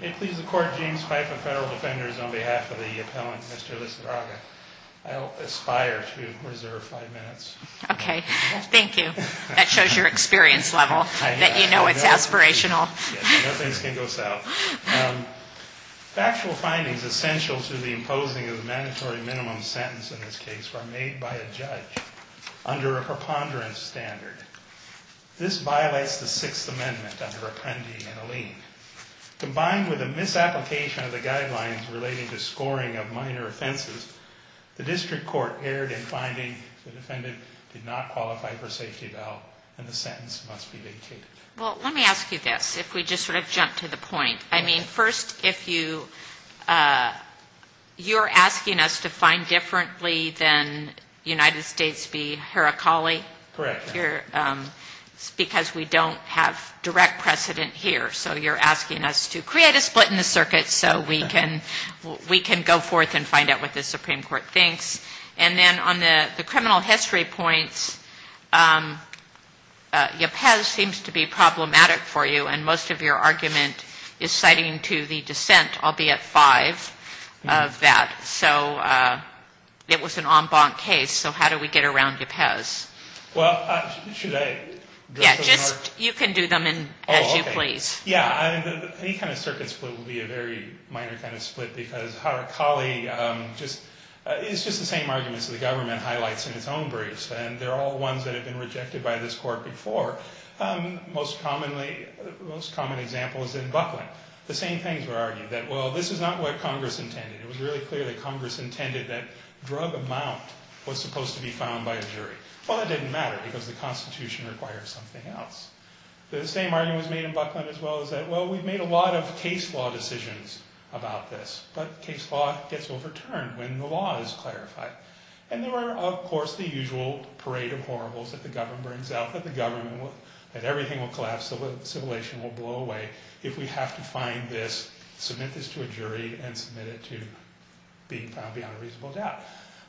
May it please the Court, James Pfeiffer, Federal Defenders, on behalf of the appellant, Mr. Lizarraga. I'll aspire to reserve five minutes. Okay. Thank you. That shows your experience level. I know. That you know it's aspirational. No things can go south. Factual findings essential to the imposing of the mandatory minimum sentence in this case were made by a judge under a preponderance standard. This violates the Sixth Amendment under Appendi and Alene. Combined with a misapplication of the guidelines relating to scoring of minor offenses, the district court erred in finding the defendant did not qualify for safety bail and the sentence must be vacated. Well, let me ask you this, if we just sort of jump to the point. I mean, first, if you're asking us to find differently than United States v. Heracli? Correct. Because we don't have direct precedent here. So you're asking us to create a split in the circuit so we can go forth and find out what the Supreme Court thinks. And then on the criminal history points, Ypez seems to be problematic for you and most of your argument is citing to the dissent, albeit five, of that. So it was an en banc case. So how do we get around Ypez? Well, should I? Yeah, just you can do them as you please. Yeah, any kind of circuit split will be a very minor kind of split because Heracli is just the same arguments that the government highlights in its own briefs and they're all ones that have been rejected by this court before. The most common example is in Buckland. The same things were argued that, well, this is not what Congress intended. It was really clear that Congress intended that drug amount was supposed to be found by a jury. Well, that didn't matter because the Constitution requires something else. The same argument was made in Buckland as well as that, well, we've made a lot of case law decisions about this, but case law gets overturned when the law is clarified. And there are, of course, the usual parade of horribles that the government brings out, that the government will, that everything will collapse, civilization will blow away if we have to find this, submit this to a jury, and submit it to being found beyond a reasonable doubt.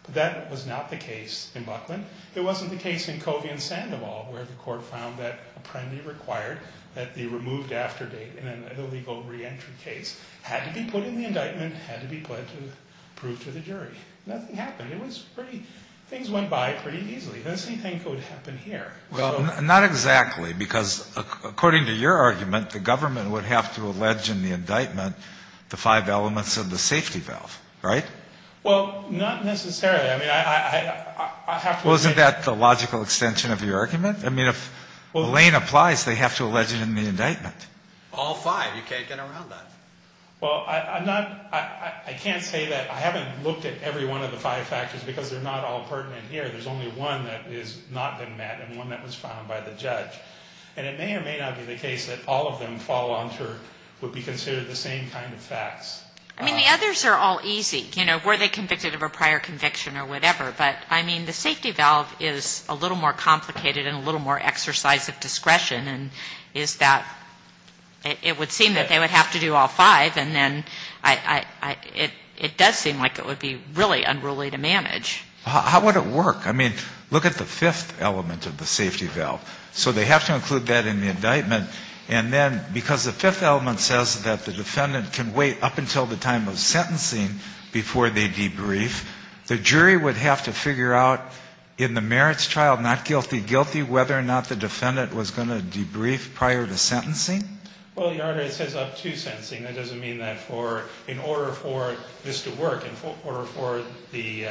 But that was not the case in Buckland. It wasn't the case in Covey and Sandoval where the court found that apprendee required that the removed after date in an illegal reentry case had to be put in the indictment, had to be put to prove to the jury. Nothing happened. It was pretty, things went by pretty easily. The same thing could happen here. Well, not exactly because, according to your argument, the government would have to allege in the indictment the five elements of the safety valve, right? Well, not necessarily. I mean, I have to agree. Well, isn't that the logical extension of your argument? I mean, if the lane applies, they have to allege it in the indictment. All five. You can't get around that. Well, I'm not, I can't say that, I haven't looked at every one of the five factors because they're not all pertinent here. There's only one that has not been met and one that was found by the judge. And it may or may not be the case that all of them fall onto what would be considered the same kind of facts. I mean, the others are all easy. You know, were they convicted of a prior conviction or whatever. But, I mean, the safety valve is a little more complicated and a little more exercise of discretion. And is that, it would seem that they would have to do all five. And then it does seem like it would be really unruly to manage. How would it work? I mean, look at the fifth element of the safety valve. So they have to include that in the indictment. And then because the fifth element says that the defendant can wait up until the time of sentencing before they debrief, the jury would have to figure out in the merits trial, not guilty, guilty, whether or not the defendant was going to debrief prior to sentencing? Well, Your Honor, it says up to sentencing. That doesn't mean that for, in order for this to work, in order for the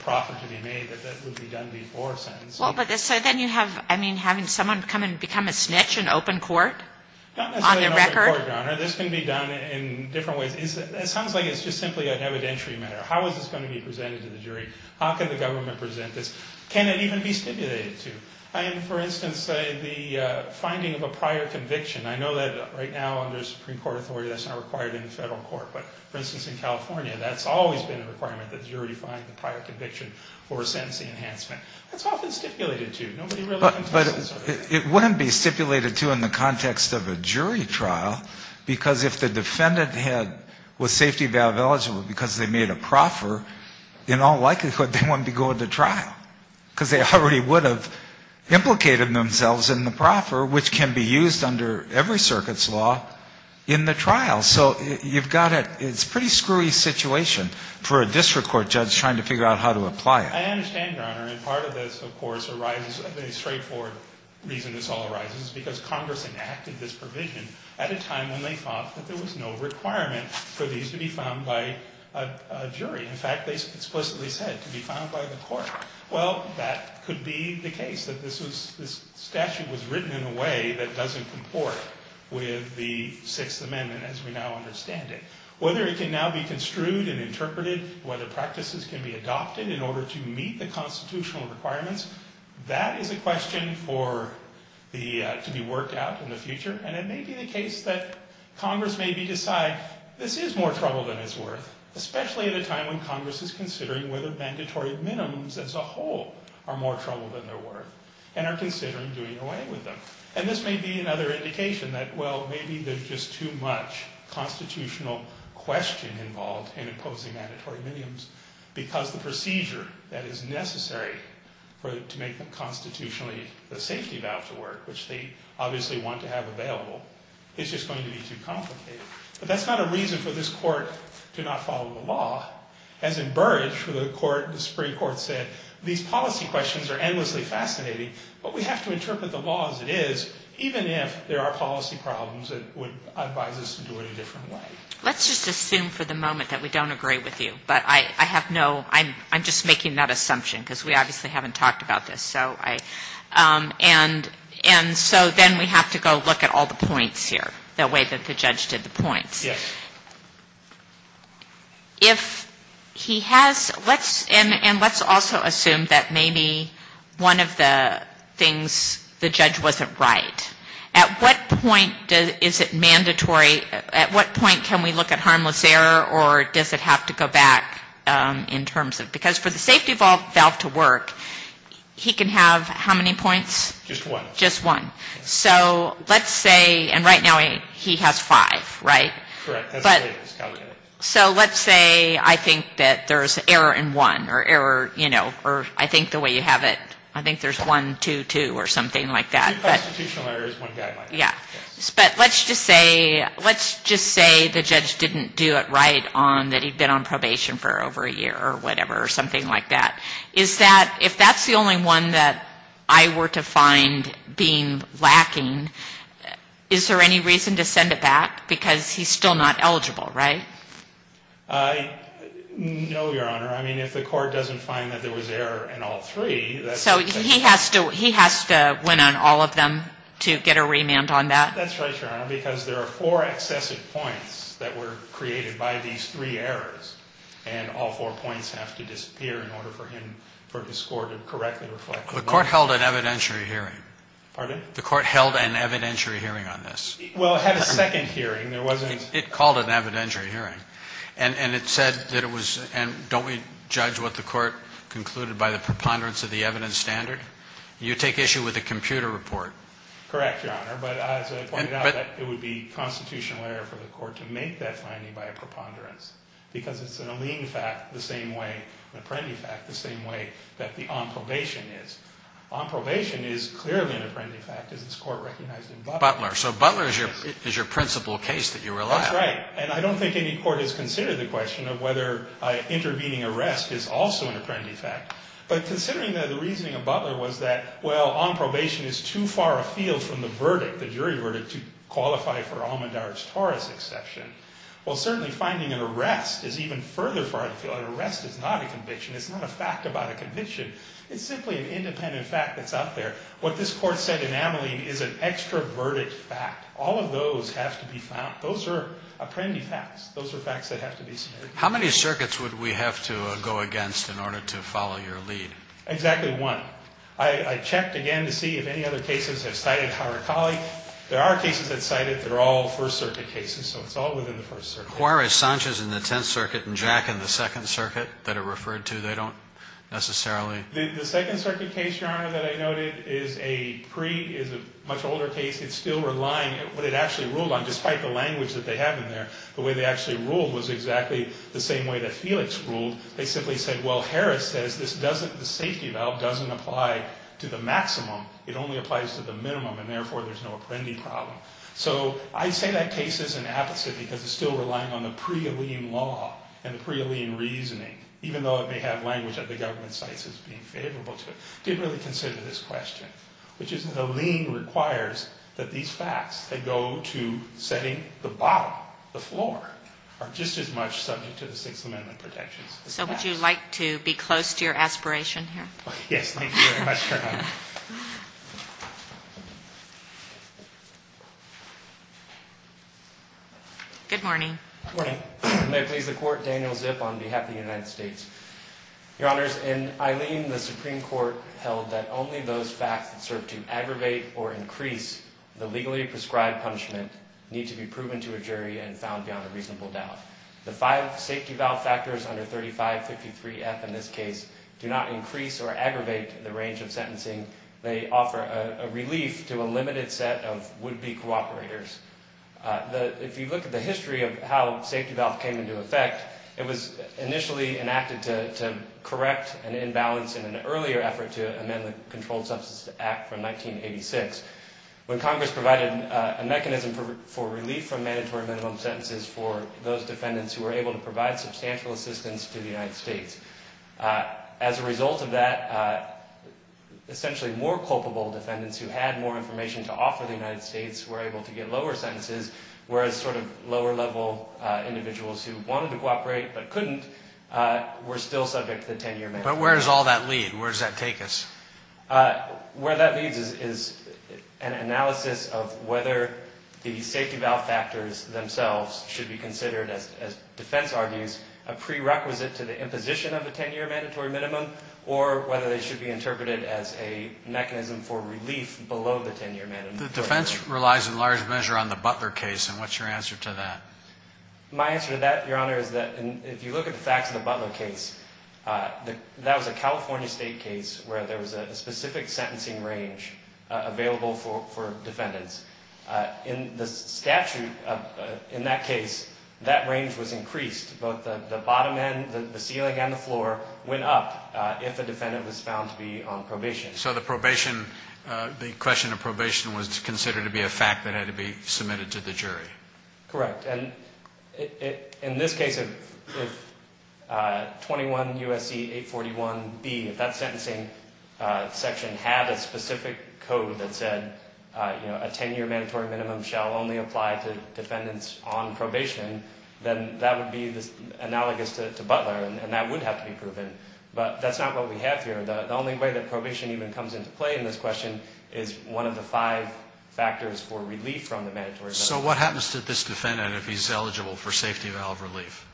profit to be made, that that would be done before sentencing. Well, but so then you have, I mean, having someone become a snitch in open court on the record? Not necessarily in open court, Your Honor. This can be done in different ways. It sounds like it's just simply an evidentiary matter. How is this going to be presented to the jury? How can the government present this? Can it even be stipulated to? I mean, for instance, the finding of a prior conviction. I know that right now under Supreme Court authority, that's not required in the federal court. But, for instance, in California, that's always been a requirement that the jury find the prior conviction for a sentencing enhancement. That's often stipulated to. Nobody really contests that. But it wouldn't be stipulated to in the context of a jury trial, because if the defendant had, was safety valve eligible because they made a proffer, in all likelihood, they wouldn't be going to trial, because they already would have implicated themselves in the proffer, which can be used under every circuit's law in the trial. So you've got a, it's a pretty screwy situation for a district court judge trying to figure out how to apply it. I understand, Your Honor, and part of this, of course, arises, a very straightforward reason this all arises, because Congress enacted this provision at a time when they thought that there was no requirement for these to be found by a jury. In fact, they explicitly said to be found by the court. Well, that could be the case, that this was, this statute was written in a way that doesn't comport with the Sixth Amendment as we now understand it. Whether it can now be construed and interpreted, whether practices can be adopted in order to meet the constitutional requirements, that is a question for the, to be worked out in the future. And it may be the case that Congress may decide, this is more trouble than it's worth, especially at a time when Congress is considering whether mandatory minimums as a whole are more trouble than they're worth, and are considering doing away with them. And this may be another indication that, well, maybe there's just too much constitutional question involved in imposing mandatory minimums, because the procedure that is necessary for, to make the constitutionally, the safety valve to work, which they obviously want to have available, is just going to be too complicated. But that's not a reason for this court to not follow the law. As in Burrage, where the court, the Supreme Court said, these policy questions are endlessly fascinating, but we have to interpret the law as it is, even if there are policy problems that would advise us to do it a different way. Let's just assume for the moment that we don't agree with you. But I have no, I'm just making that assumption, because we obviously haven't talked about this. So I, and so then we have to go look at all the points here, the way that the judge did the points. Yes. If he has, let's, and let's also assume that maybe one of the things, the judge wasn't right. At what point is it mandatory, at what point can we look at harmless error, or does it have to go back in terms of, because for the safety valve to work, he can have how many points? Just one. Just one. So let's say, and right now he has five, right? Correct. So let's say I think that there's error in one, or error, you know, or I think the way you have it, I think there's one, two, two, or something like that. Two constitutional errors, one guy might have. Yeah. But let's just say, let's just say the judge didn't do it right on, that he'd been on probation for over a year or whatever, or something like that, is that, if that's the only one that I were to find being lacking, is there any reason to send it back, because he's still not eligible, right? No, Your Honor. I mean, if the court doesn't find that there was error in all three, that's. So he has to, he has to win on all of them to get a remand on that? That's right, Your Honor, because there are four excessive points that were created by these three errors, and all four points have to disappear in order for him, for his score to correctly reflect. The court held an evidentiary hearing. Pardon? The court held an evidentiary hearing on this. Well, it had a second hearing, there wasn't. It called an evidentiary hearing, and it said that it was, and don't we judge what the court concluded by the preponderance of the evidence standard? You take issue with the computer report. Correct, Your Honor, but as I pointed out, it would be constitutional error for the court to make that finding by a preponderance, because it's an Alene fact the same way, an Apprendi fact the same way that the on probation is. On probation is clearly an Apprendi fact, as this court recognized in Butler. Butler, so Butler is your principal case that you rely on. That's right, and I don't think any court has considered the question of whether intervening arrest is also an Apprendi fact, but considering that the reasoning of Butler was that, well, on probation is too far afield from the verdict, the jury verdict, to qualify for Almendar's Taurus exception. Well, certainly finding an arrest is even further far afield. An arrest is not a conviction. It's not a fact about a conviction. It's simply an independent fact that's out there. What this court said in Ameline is an extroverted fact. All of those have to be found. Those are Apprendi facts. Those are facts that have to be submitted. How many circuits would we have to go against in order to follow your lead? Exactly one. I checked again to see if any other cases have cited Harakali. There are cases that cite it. They're all First Circuit cases, so it's all within the First Circuit. The Juarez-Sanchez in the Tenth Circuit and Jack in the Second Circuit that are referred to, they don't necessarily? The Second Circuit case, Your Honor, that I noted is a much older case. It's still relying on what it actually ruled on. Despite the language that they have in there, the way they actually ruled was exactly the same way that Felix ruled. They simply said, well, Harris says the safety valve doesn't apply to the maximum. It only applies to the minimum, and, therefore, there's no Apprendi problem. So I say that case is an apposite because it's still relying on the prealien law and the prealien reasoning, even though it may have language that the government cites as being favorable to it. I didn't really consider this question, which is that a lien requires that these facts that go to setting the bottom, the floor, are just as much subject to the Sixth Amendment protections. So would you like to be close to your aspiration here? Yes, thank you very much, Your Honor. Good morning. Good morning. May it please the Court, Daniel Zip on behalf of the United States. Your Honors, in Eileen, the Supreme Court held that only those facts that serve to aggravate or increase the legally prescribed punishment need to be proven to a jury and found beyond a reasonable doubt. The five safety valve factors under 3553F in this case do not increase or aggravate the range of sentencing. They offer a relief to a limited set of would-be cooperators. If you look at the history of how safety valve came into effect, it was initially enacted to correct an imbalance in an earlier effort to amend the Controlled Substance Act from 1986, when Congress provided a mechanism for relief from mandatory minimum sentences for those defendants who were able to provide substantial assistance to the United States. As a result of that, essentially more culpable defendants who had more information to offer the United States were able to get lower sentences, whereas sort of lower-level individuals who wanted to cooperate but couldn't were still subject to the 10-year mandate. But where does all that lead? Where does that take us? Where that leads is an analysis of whether the safety valve factors themselves should be considered, as defense argues, a prerequisite to the imposition of a 10-year mandatory minimum or whether they should be interpreted as a mechanism for relief below the 10-year mandatory minimum. The defense relies in large measure on the Butler case, and what's your answer to that? My answer to that, Your Honor, is that if you look at the facts of the Butler case, that was a California state case where there was a specific sentencing range available for defendants. In the statute in that case, that range was increased. Both the bottom end, the ceiling and the floor went up if a defendant was found to be on probation. So the question of probation was considered to be a fact that had to be submitted to the jury? Correct. And in this case, if 21 U.S.C. 841B, if that sentencing section had a specific code that said, you know, a 10-year mandatory minimum shall only apply to defendants on probation, then that would be analogous to Butler, and that would have to be proven. But that's not what we have here. The only way that probation even comes into play in this question is one of the five factors for relief from the mandatory minimum. So what happens to this defendant if he's eligible for safety valve relief?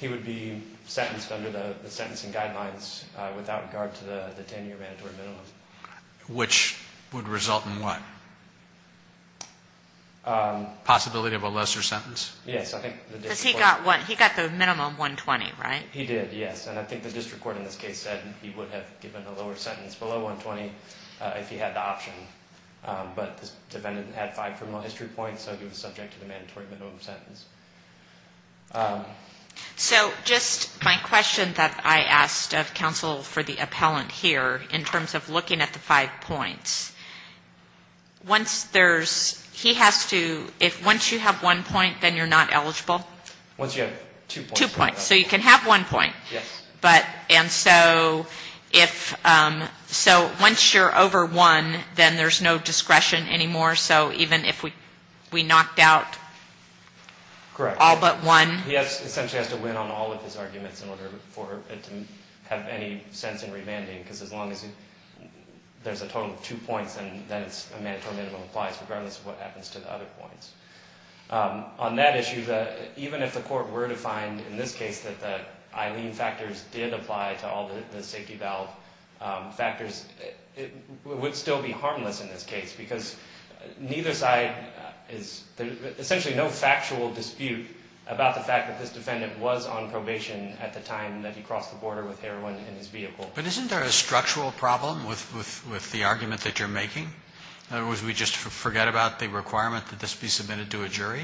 He would be sentenced under the sentencing guidelines without regard to the 10-year mandatory minimum. Which would result in what? Possibility of a lesser sentence? Yes. Because he got the minimum, 120, right? He did, yes. And I think the district court in this case said he would have given a lower sentence below 120 if he had the option. But this defendant had five criminal history points, so he was subject to the mandatory minimum sentence. So just my question that I asked of counsel for the appellant here in terms of looking at the five points, once you have one point, then you're not eligible? Once you have two points. Two points. So you can have one point. Yes. And so once you're over one, then there's no discretion anymore? So even if we knocked out all but one? Correct. He essentially has to win on all of his arguments in order for it to have any sense in remanding. Because as long as there's a total of two points, then a mandatory minimum applies regardless of what happens to the other points. On that issue, even if the court were to find in this case that the Eileen factors did apply to all the safety valve factors, it would still be harmless in this case. Because neither side is essentially no factual dispute about the fact that this defendant was on probation at the time that he crossed the border with heroin in his vehicle. But isn't there a structural problem with the argument that you're making? In other words, we just forget about the requirement that this be submitted to a jury?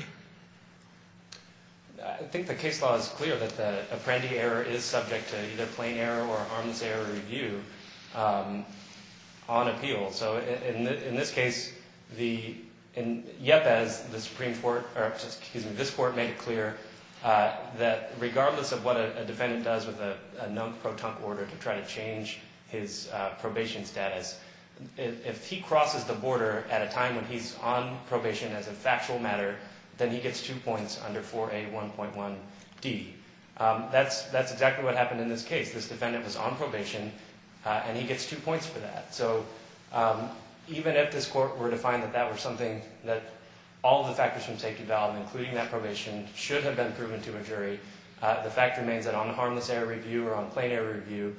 I think the case law is clear that the Apprendi error is subject to either plain error or harmless error review on appeal. So in this case, the Yepas, the Supreme Court, or excuse me, this Court made it clear that regardless of what a defendant does with a known pro tonque order to try to change his probation status, if he crosses the border at a time when he's on probation as a factual matter, then he gets two points under 4A1.1D. That's exactly what happened in this case. This defendant was on probation, and he gets two points for that. So even if this court were to find that that were something that all the factors from safety valve, including that probation, should have been proven to a jury, the fact remains that on the harmless error review or on plain error review,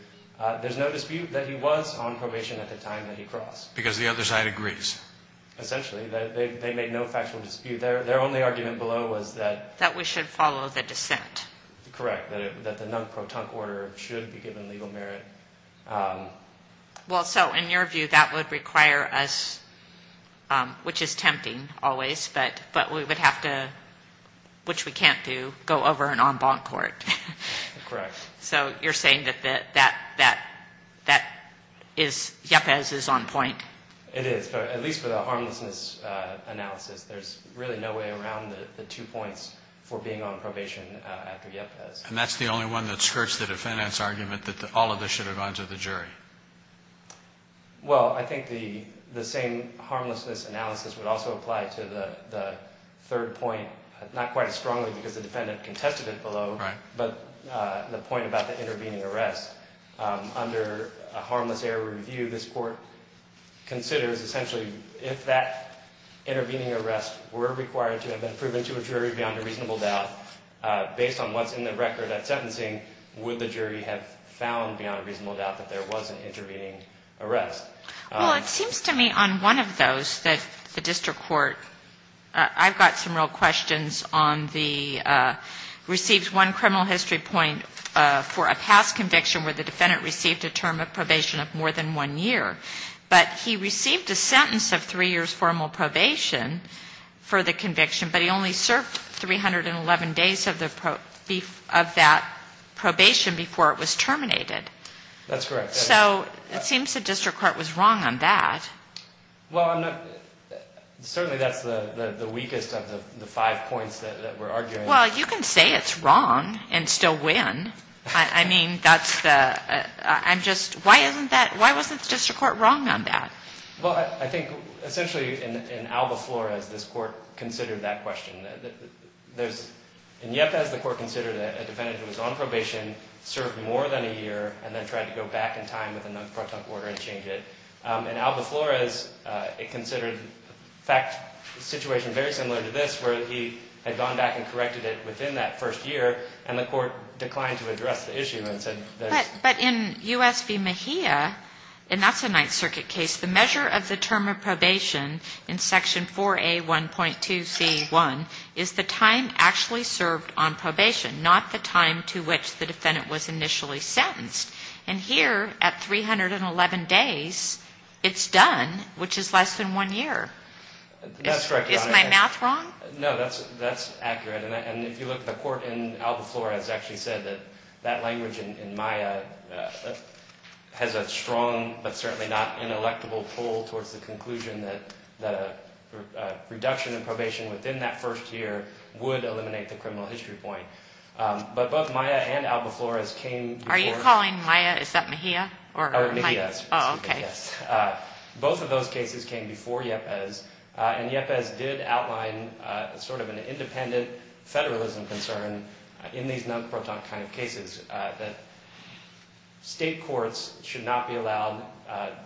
there's no dispute that he was on probation at the time that he crossed. Because the other side agrees. Essentially, they made no factual dispute. Their only argument below was that... That we should follow the dissent. Correct, that the known pro tonque order should be given legal merit. Well, so in your view, that would require us, which is tempting always, but we would have to, which we can't do, go over an en banc court. Correct. So you're saying that that is, Yepas is on point? It is. At least for the harmlessness analysis, there's really no way around the two points for being on probation after Yepas. And that's the only one that skirts the defendant's argument that all of this should have gone to the jury. Well, I think the same harmlessness analysis would also apply to the third point, not quite as strongly because the defendant contested it below, but the point about the intervening arrest. Under a harmless error review, this court considers, essentially, if that intervening arrest were required to have been proven to a jury beyond a reasonable doubt, based on what's in the record at sentencing, would the jury have found beyond a reasonable doubt that there was an intervening arrest? Well, it seems to me on one of those that the district court, I've got some real questions on the, received one criminal history point for a past conviction where the defendant received a term of probation of more than one year, but he received a sentence of three years formal probation for the conviction, but he only served 311 days of that probation before it was terminated. That's correct. So it seems the district court was wrong on that. Well, I'm not, certainly that's the weakest of the five points that we're arguing. Well, you can say it's wrong and still win. I mean, that's the, I'm just, why isn't that, why wasn't the district court wrong on that? Well, I think, essentially, in Alba Flores, this court considered that question. There's, in Yepez, the court considered a defendant who was on probation, served more than a year, and then tried to go back in time within the pro tempore and change it. In Alba Flores, it considered, in fact, a situation very similar to this, where he had gone back and corrected it within that first year, and the court declined to address the issue and said that. But in U.S. v. Mejia, and that's a Ninth Circuit case, the measure of the term of probation in Section 4A1.2c1 is the time actually served on probation, not the time to which the defendant was initially sentenced. And here, at 311 days, it's done, which is less than one year. That's correct, Your Honor. Is my math wrong? No, that's accurate. And if you look, the court in Alba Flores actually said that that language in Maya has a strong, but certainly not inelectable, pull towards the conclusion that the reduction in probation within that first year would eliminate the criminal history point. But both Maya and Alba Flores came before… Are you calling Maya, is that Mejia? Oh, Mejia, yes. Oh, okay. Both of those cases came before Yepes, and Yepes did outline sort of an independent federalism concern in these nonprotont kind of cases, that state courts should not be allowed,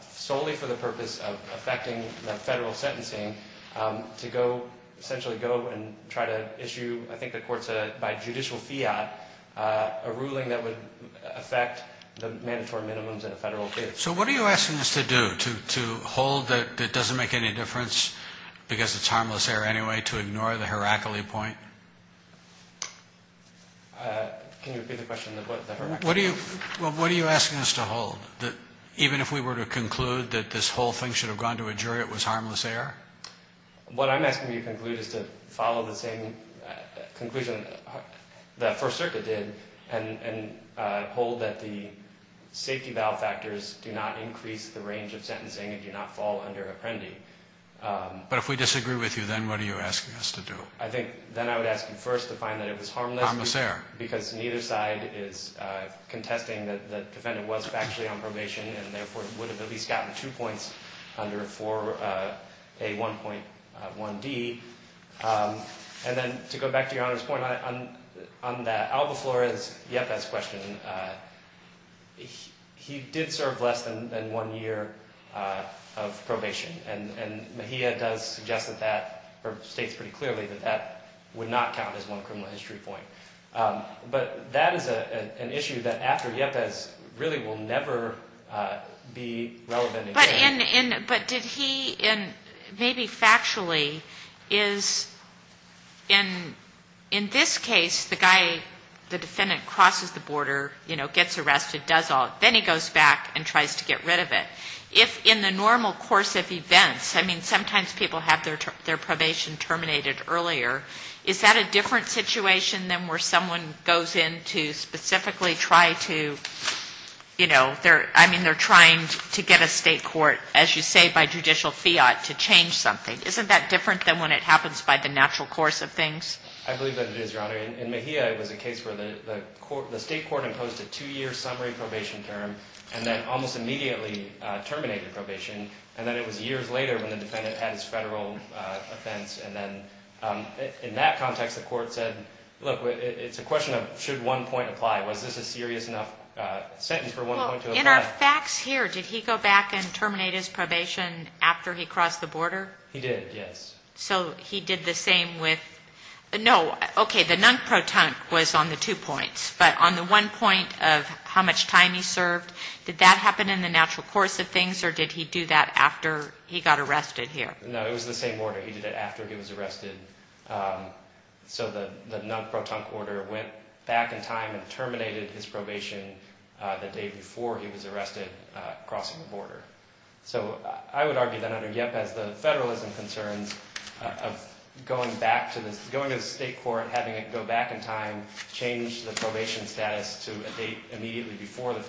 solely for the purpose of affecting the federal sentencing, to go, essentially go and try to issue, I think the court said, by judicial fiat, a ruling that would affect the mandatory minimums in a federal case. So what are you asking us to do, to hold that it doesn't make any difference, because it's harmless error anyway, to ignore the Heracli point? Can you repeat the question? What are you asking us to hold, that even if we were to conclude that this whole thing should have gone to a jury, it was harmless error? What I'm asking you to conclude is to follow the same conclusion that First Circuit did, and hold that the safety valve factors do not increase the range of sentencing and do not fall under Apprendi. But if we disagree with you, then what are you asking us to do? I think, then I would ask you first to find that it was harmless… Harmless error. …because neither side is contesting that the defendant was factually on probation, and therefore would have at least gotten two points under 4A1.1D. And then, to go back to Your Honor's point, on that Alba Flores-Yepes question, he did serve less than one year of probation. And Mejia does suggest that that, or states pretty clearly that that would not count as one criminal history point. But that is an issue that, after Yepes, really will never be relevant again. But did he, maybe factually, is, in this case, the guy, the defendant crosses the border, you know, gets arrested, does all, then he goes back and tries to get rid of it. If, in the normal course of events, I mean, sometimes people have their probation terminated earlier, is that a different situation than where someone goes in to specifically try to, you know, I mean, they're trying to get a state court, as you say, by judicial fiat to change something. Isn't that different than when it happens by the natural course of things? I believe that it is, Your Honor. In Mejia, it was a case where the state court imposed a two-year summary probation term and then almost immediately terminated probation. And then it was years later when the defendant had his federal offense. And then in that context, the court said, look, it's a question of should one point apply. Was this a serious enough sentence for one point to apply? Well, in our facts here, did he go back and terminate his probation after he crossed the border? He did, yes. So he did the same with – no, okay, the non-protonc was on the two points. But on the one point of how much time he served, did that happen in the natural course of things, or did he do that after he got arrested here? No, it was the same order. He did it after he was arrested. So the non-protonc order went back in time and terminated his probation the day before he was arrested crossing the border. So I would argue that under Yepes, the federalism concerns of going back to the state court, having it go back in time, change the probation status to a date immediately before the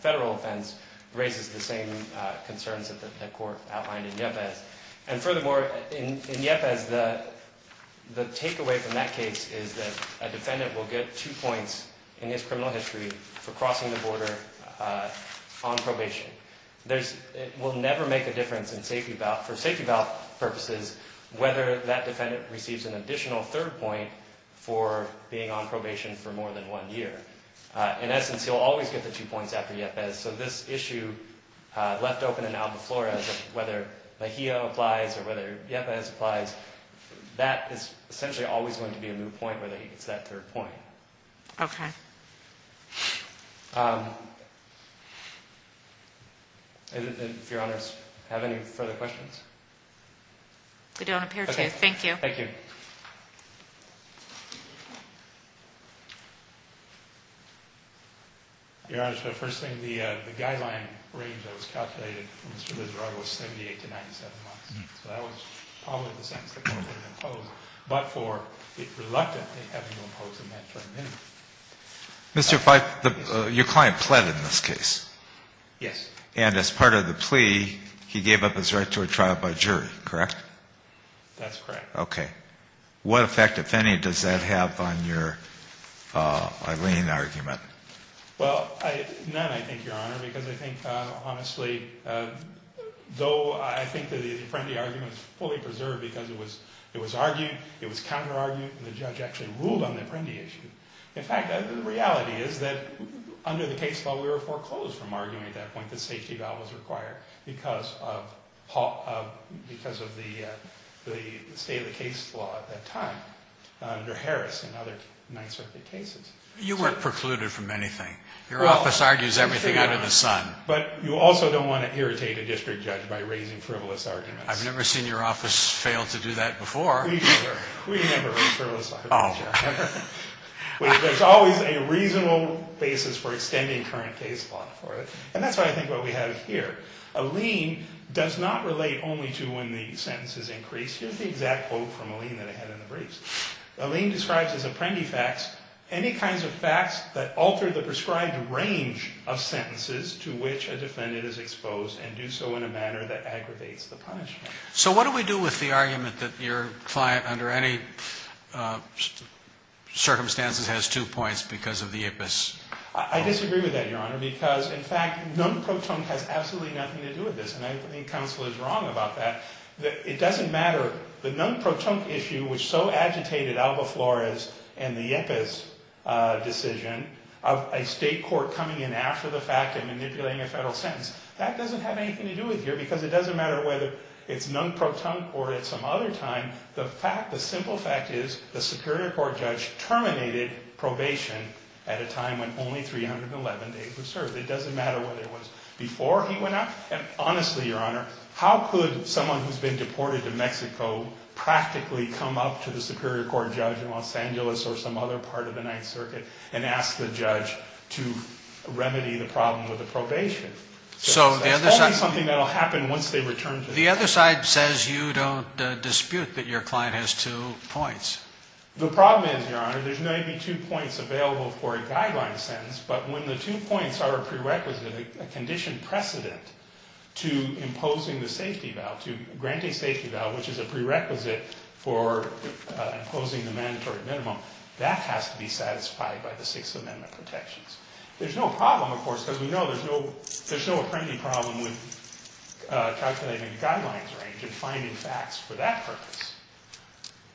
federal offense, raises the same concerns that the court outlined in Yepes. And furthermore, in Yepes, the takeaway from that case is that a defendant will get two points in his criminal history for crossing the border on probation. There's – it will never make a difference in safety bail – for safety bail purposes, whether that defendant receives an additional third point for being on probation for more than one year. In essence, he'll always get the two points after Yepes. So this issue left open in Alba Flores of whether Mejia applies or whether Yepes applies, that is essentially always going to be a moot point, whether he gets that third point. Okay. And if Your Honors have any further questions? We don't appear to. Thank you. Thank you. Your Honors, the first thing, the guideline range that was calculated for Mr. Lizard was 78 to 97 months. So that was probably the sentence the court would impose. But for it reluctantly having to impose a mandatory minimum. Mr. Feigt, your client pled in this case. Yes. And as part of the plea, he gave up his right to a trial by jury, correct? That's correct. Okay. What effect, if any, does that have on your alien argument? Well, none, I think, Your Honor, because I think, honestly, though I think that the Apprendi argument is fully preserved because it was argued, it was counter-argued, and the judge actually ruled on the Apprendi issue. In fact, the reality is that under the case law, we were foreclosed from arguing at that point that safety valve was required because of the state of the case law at that time under Harris and other Ninth Circuit cases. You weren't precluded from anything. Your office argues everything out of the sun. But you also don't want to irritate a district judge by raising frivolous arguments. I've never seen your office fail to do that before. We never. We never raise frivolous arguments, Your Honor. There's always a reasonable basis for extending current case law for it. And that's why I think what we have here, a lien does not relate only to when the sentence is increased. Here's the exact quote from a lien that I had in the briefs. A lien describes as Apprendi facts any kinds of facts that alter the prescribed range of sentences to which a defendant is exposed and do so in a manner that aggravates the punishment. So what do we do with the argument that your client under any circumstances has two points because of the IPAS? I disagree with that, Your Honor, because, in fact, non-protunct has absolutely nothing to do with this. And I think counsel is wrong about that. It doesn't matter. The non-protunct issue which so agitated Alba Flores and the IPAS decision of a state court coming in after the fact and manipulating a federal sentence, that doesn't have anything to do with here because it doesn't matter whether it's non-protunct or at some other time. The simple fact is the Superior Court judge terminated probation at a time when only 311 days were served. It doesn't matter whether it was before he went out. Honestly, Your Honor, how could someone who's been deported to Mexico practically come up to the Superior Court judge in Los Angeles or some other part of the Ninth Circuit and ask the judge to remedy the problem with the probation? So the other side says you don't dispute that your client has two points. The problem is, Your Honor, there's 92 points available for a guideline sentence, but when the two points are a prerequisite, a condition precedent to imposing the safety vow, to granting safety vow, which is a prerequisite for imposing the mandatory minimum, that has to be satisfied by the Sixth Amendment protections. There's no problem, of course, because we know there's no apprending problem with calculating the guidelines range and finding facts for that purpose.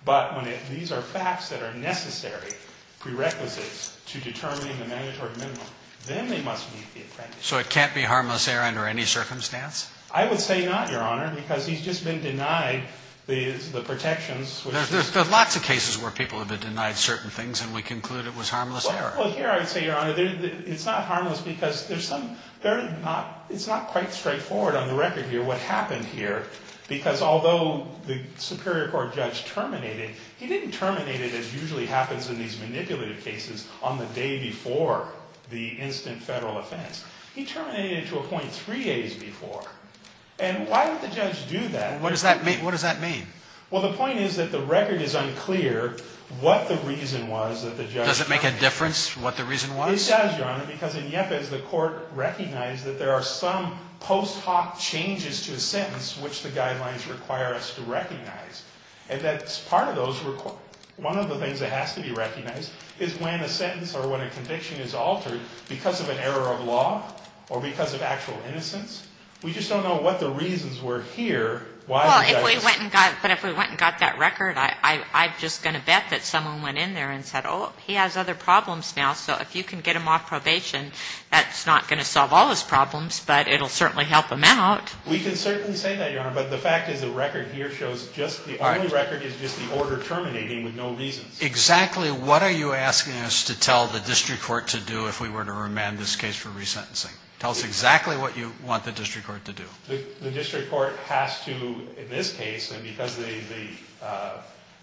But when these are facts that are necessary prerequisites to determining the mandatory minimum, then they must meet the apprendiceship criteria. So it can't be harmless error under any circumstance? I would say not, Your Honor, because he's just been denied the protections. There's lots of cases where people have been denied certain things and we conclude it was harmless error. Well, here I would say, Your Honor, it's not harmless because there's some – it's not quite straightforward on the record here what happened here, because although the Superior Court judge terminated, he didn't terminate it as usually happens in these manipulative cases on the day before the instant federal offense. He terminated it to a point three days before. And why would the judge do that? What does that mean? Well, the point is that the record is unclear what the reason was that the judge terminated. Does it make a difference what the reason was? It does, Your Honor, because in Yepes, the court recognized that there are some post hoc changes to a sentence which the guidelines require us to recognize. And that's part of those – one of the things that has to be recognized is when a sentence or when a conviction is altered because of an error of law or because of actual innocence. We just don't know what the reasons were here. Well, if we went and got that record, I'm just going to bet that someone went in there and said, oh, he has other problems now, so if you can get him off probation, that's not going to solve all his problems, but it will certainly help him out. We can certainly say that, Your Honor, but the fact is the record here shows just – the only record is just the order terminating with no reasons. Exactly what are you asking us to tell the district court to do if we were to remand this case for resentencing? Tell us exactly what you want the district court to do. The district court has to, in this case, and because they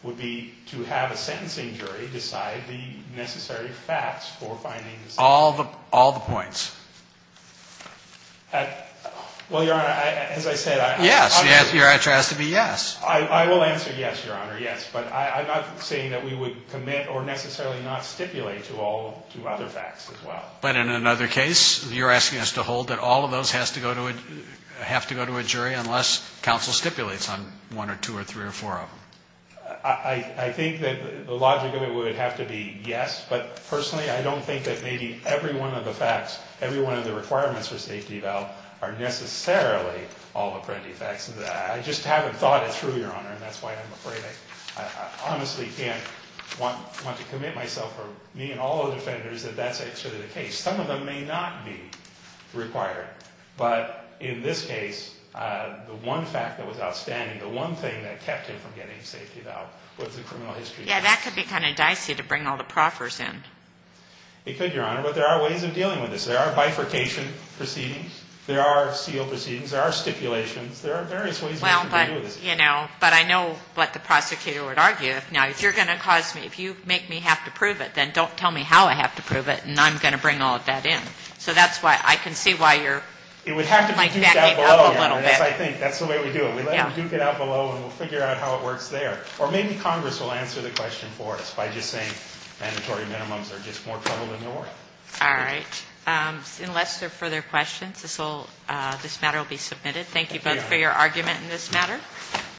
would be to have a sentencing jury decide the necessary facts for finding the sentence. All the points. Well, Your Honor, as I said – Yes, your answer has to be yes. I will answer yes, Your Honor, yes, but I'm not saying that we would commit or necessarily not stipulate to all – to other facts as well. But in another case, you're asking us to hold that all of those have to go to a jury unless counsel stipulates on one or two or three or four of them. I think that the logic of it would have to be yes, but personally, I don't think that maybe every one of the facts, every one of the requirements for safety valve are necessarily all the printed facts. I just haven't thought it through, Your Honor, and that's why I'm afraid. I honestly can't want to commit myself or me and all other defenders that that's actually the case. Some of them may not be required, but in this case, the one fact that was outstanding, the one thing that kept him from getting safety valve was the criminal history. Yeah, that could be kind of dicey to bring all the proffers in. It could, Your Honor, but there are ways of dealing with this. There are bifurcation proceedings. There are seal proceedings. There are stipulations. There are various ways of dealing with this. Well, but, you know, but I know what the prosecutor would argue. Now, if you're going to cause me – if you make me have to prove it, then don't tell me how I have to prove it, and I'm going to bring all of that in. So that's why I can see why you're backing up a little bit. It would have to be duked out below, Your Honor. Yes, I think. That's the way we do it. We let them duke it out below, and we'll figure out how it works there. Or maybe Congress will answer the question for us by just saying mandatory minimums are just more trouble than normal. All right. Unless there are further questions, this matter will be submitted. Thank you both for your argument in this matter.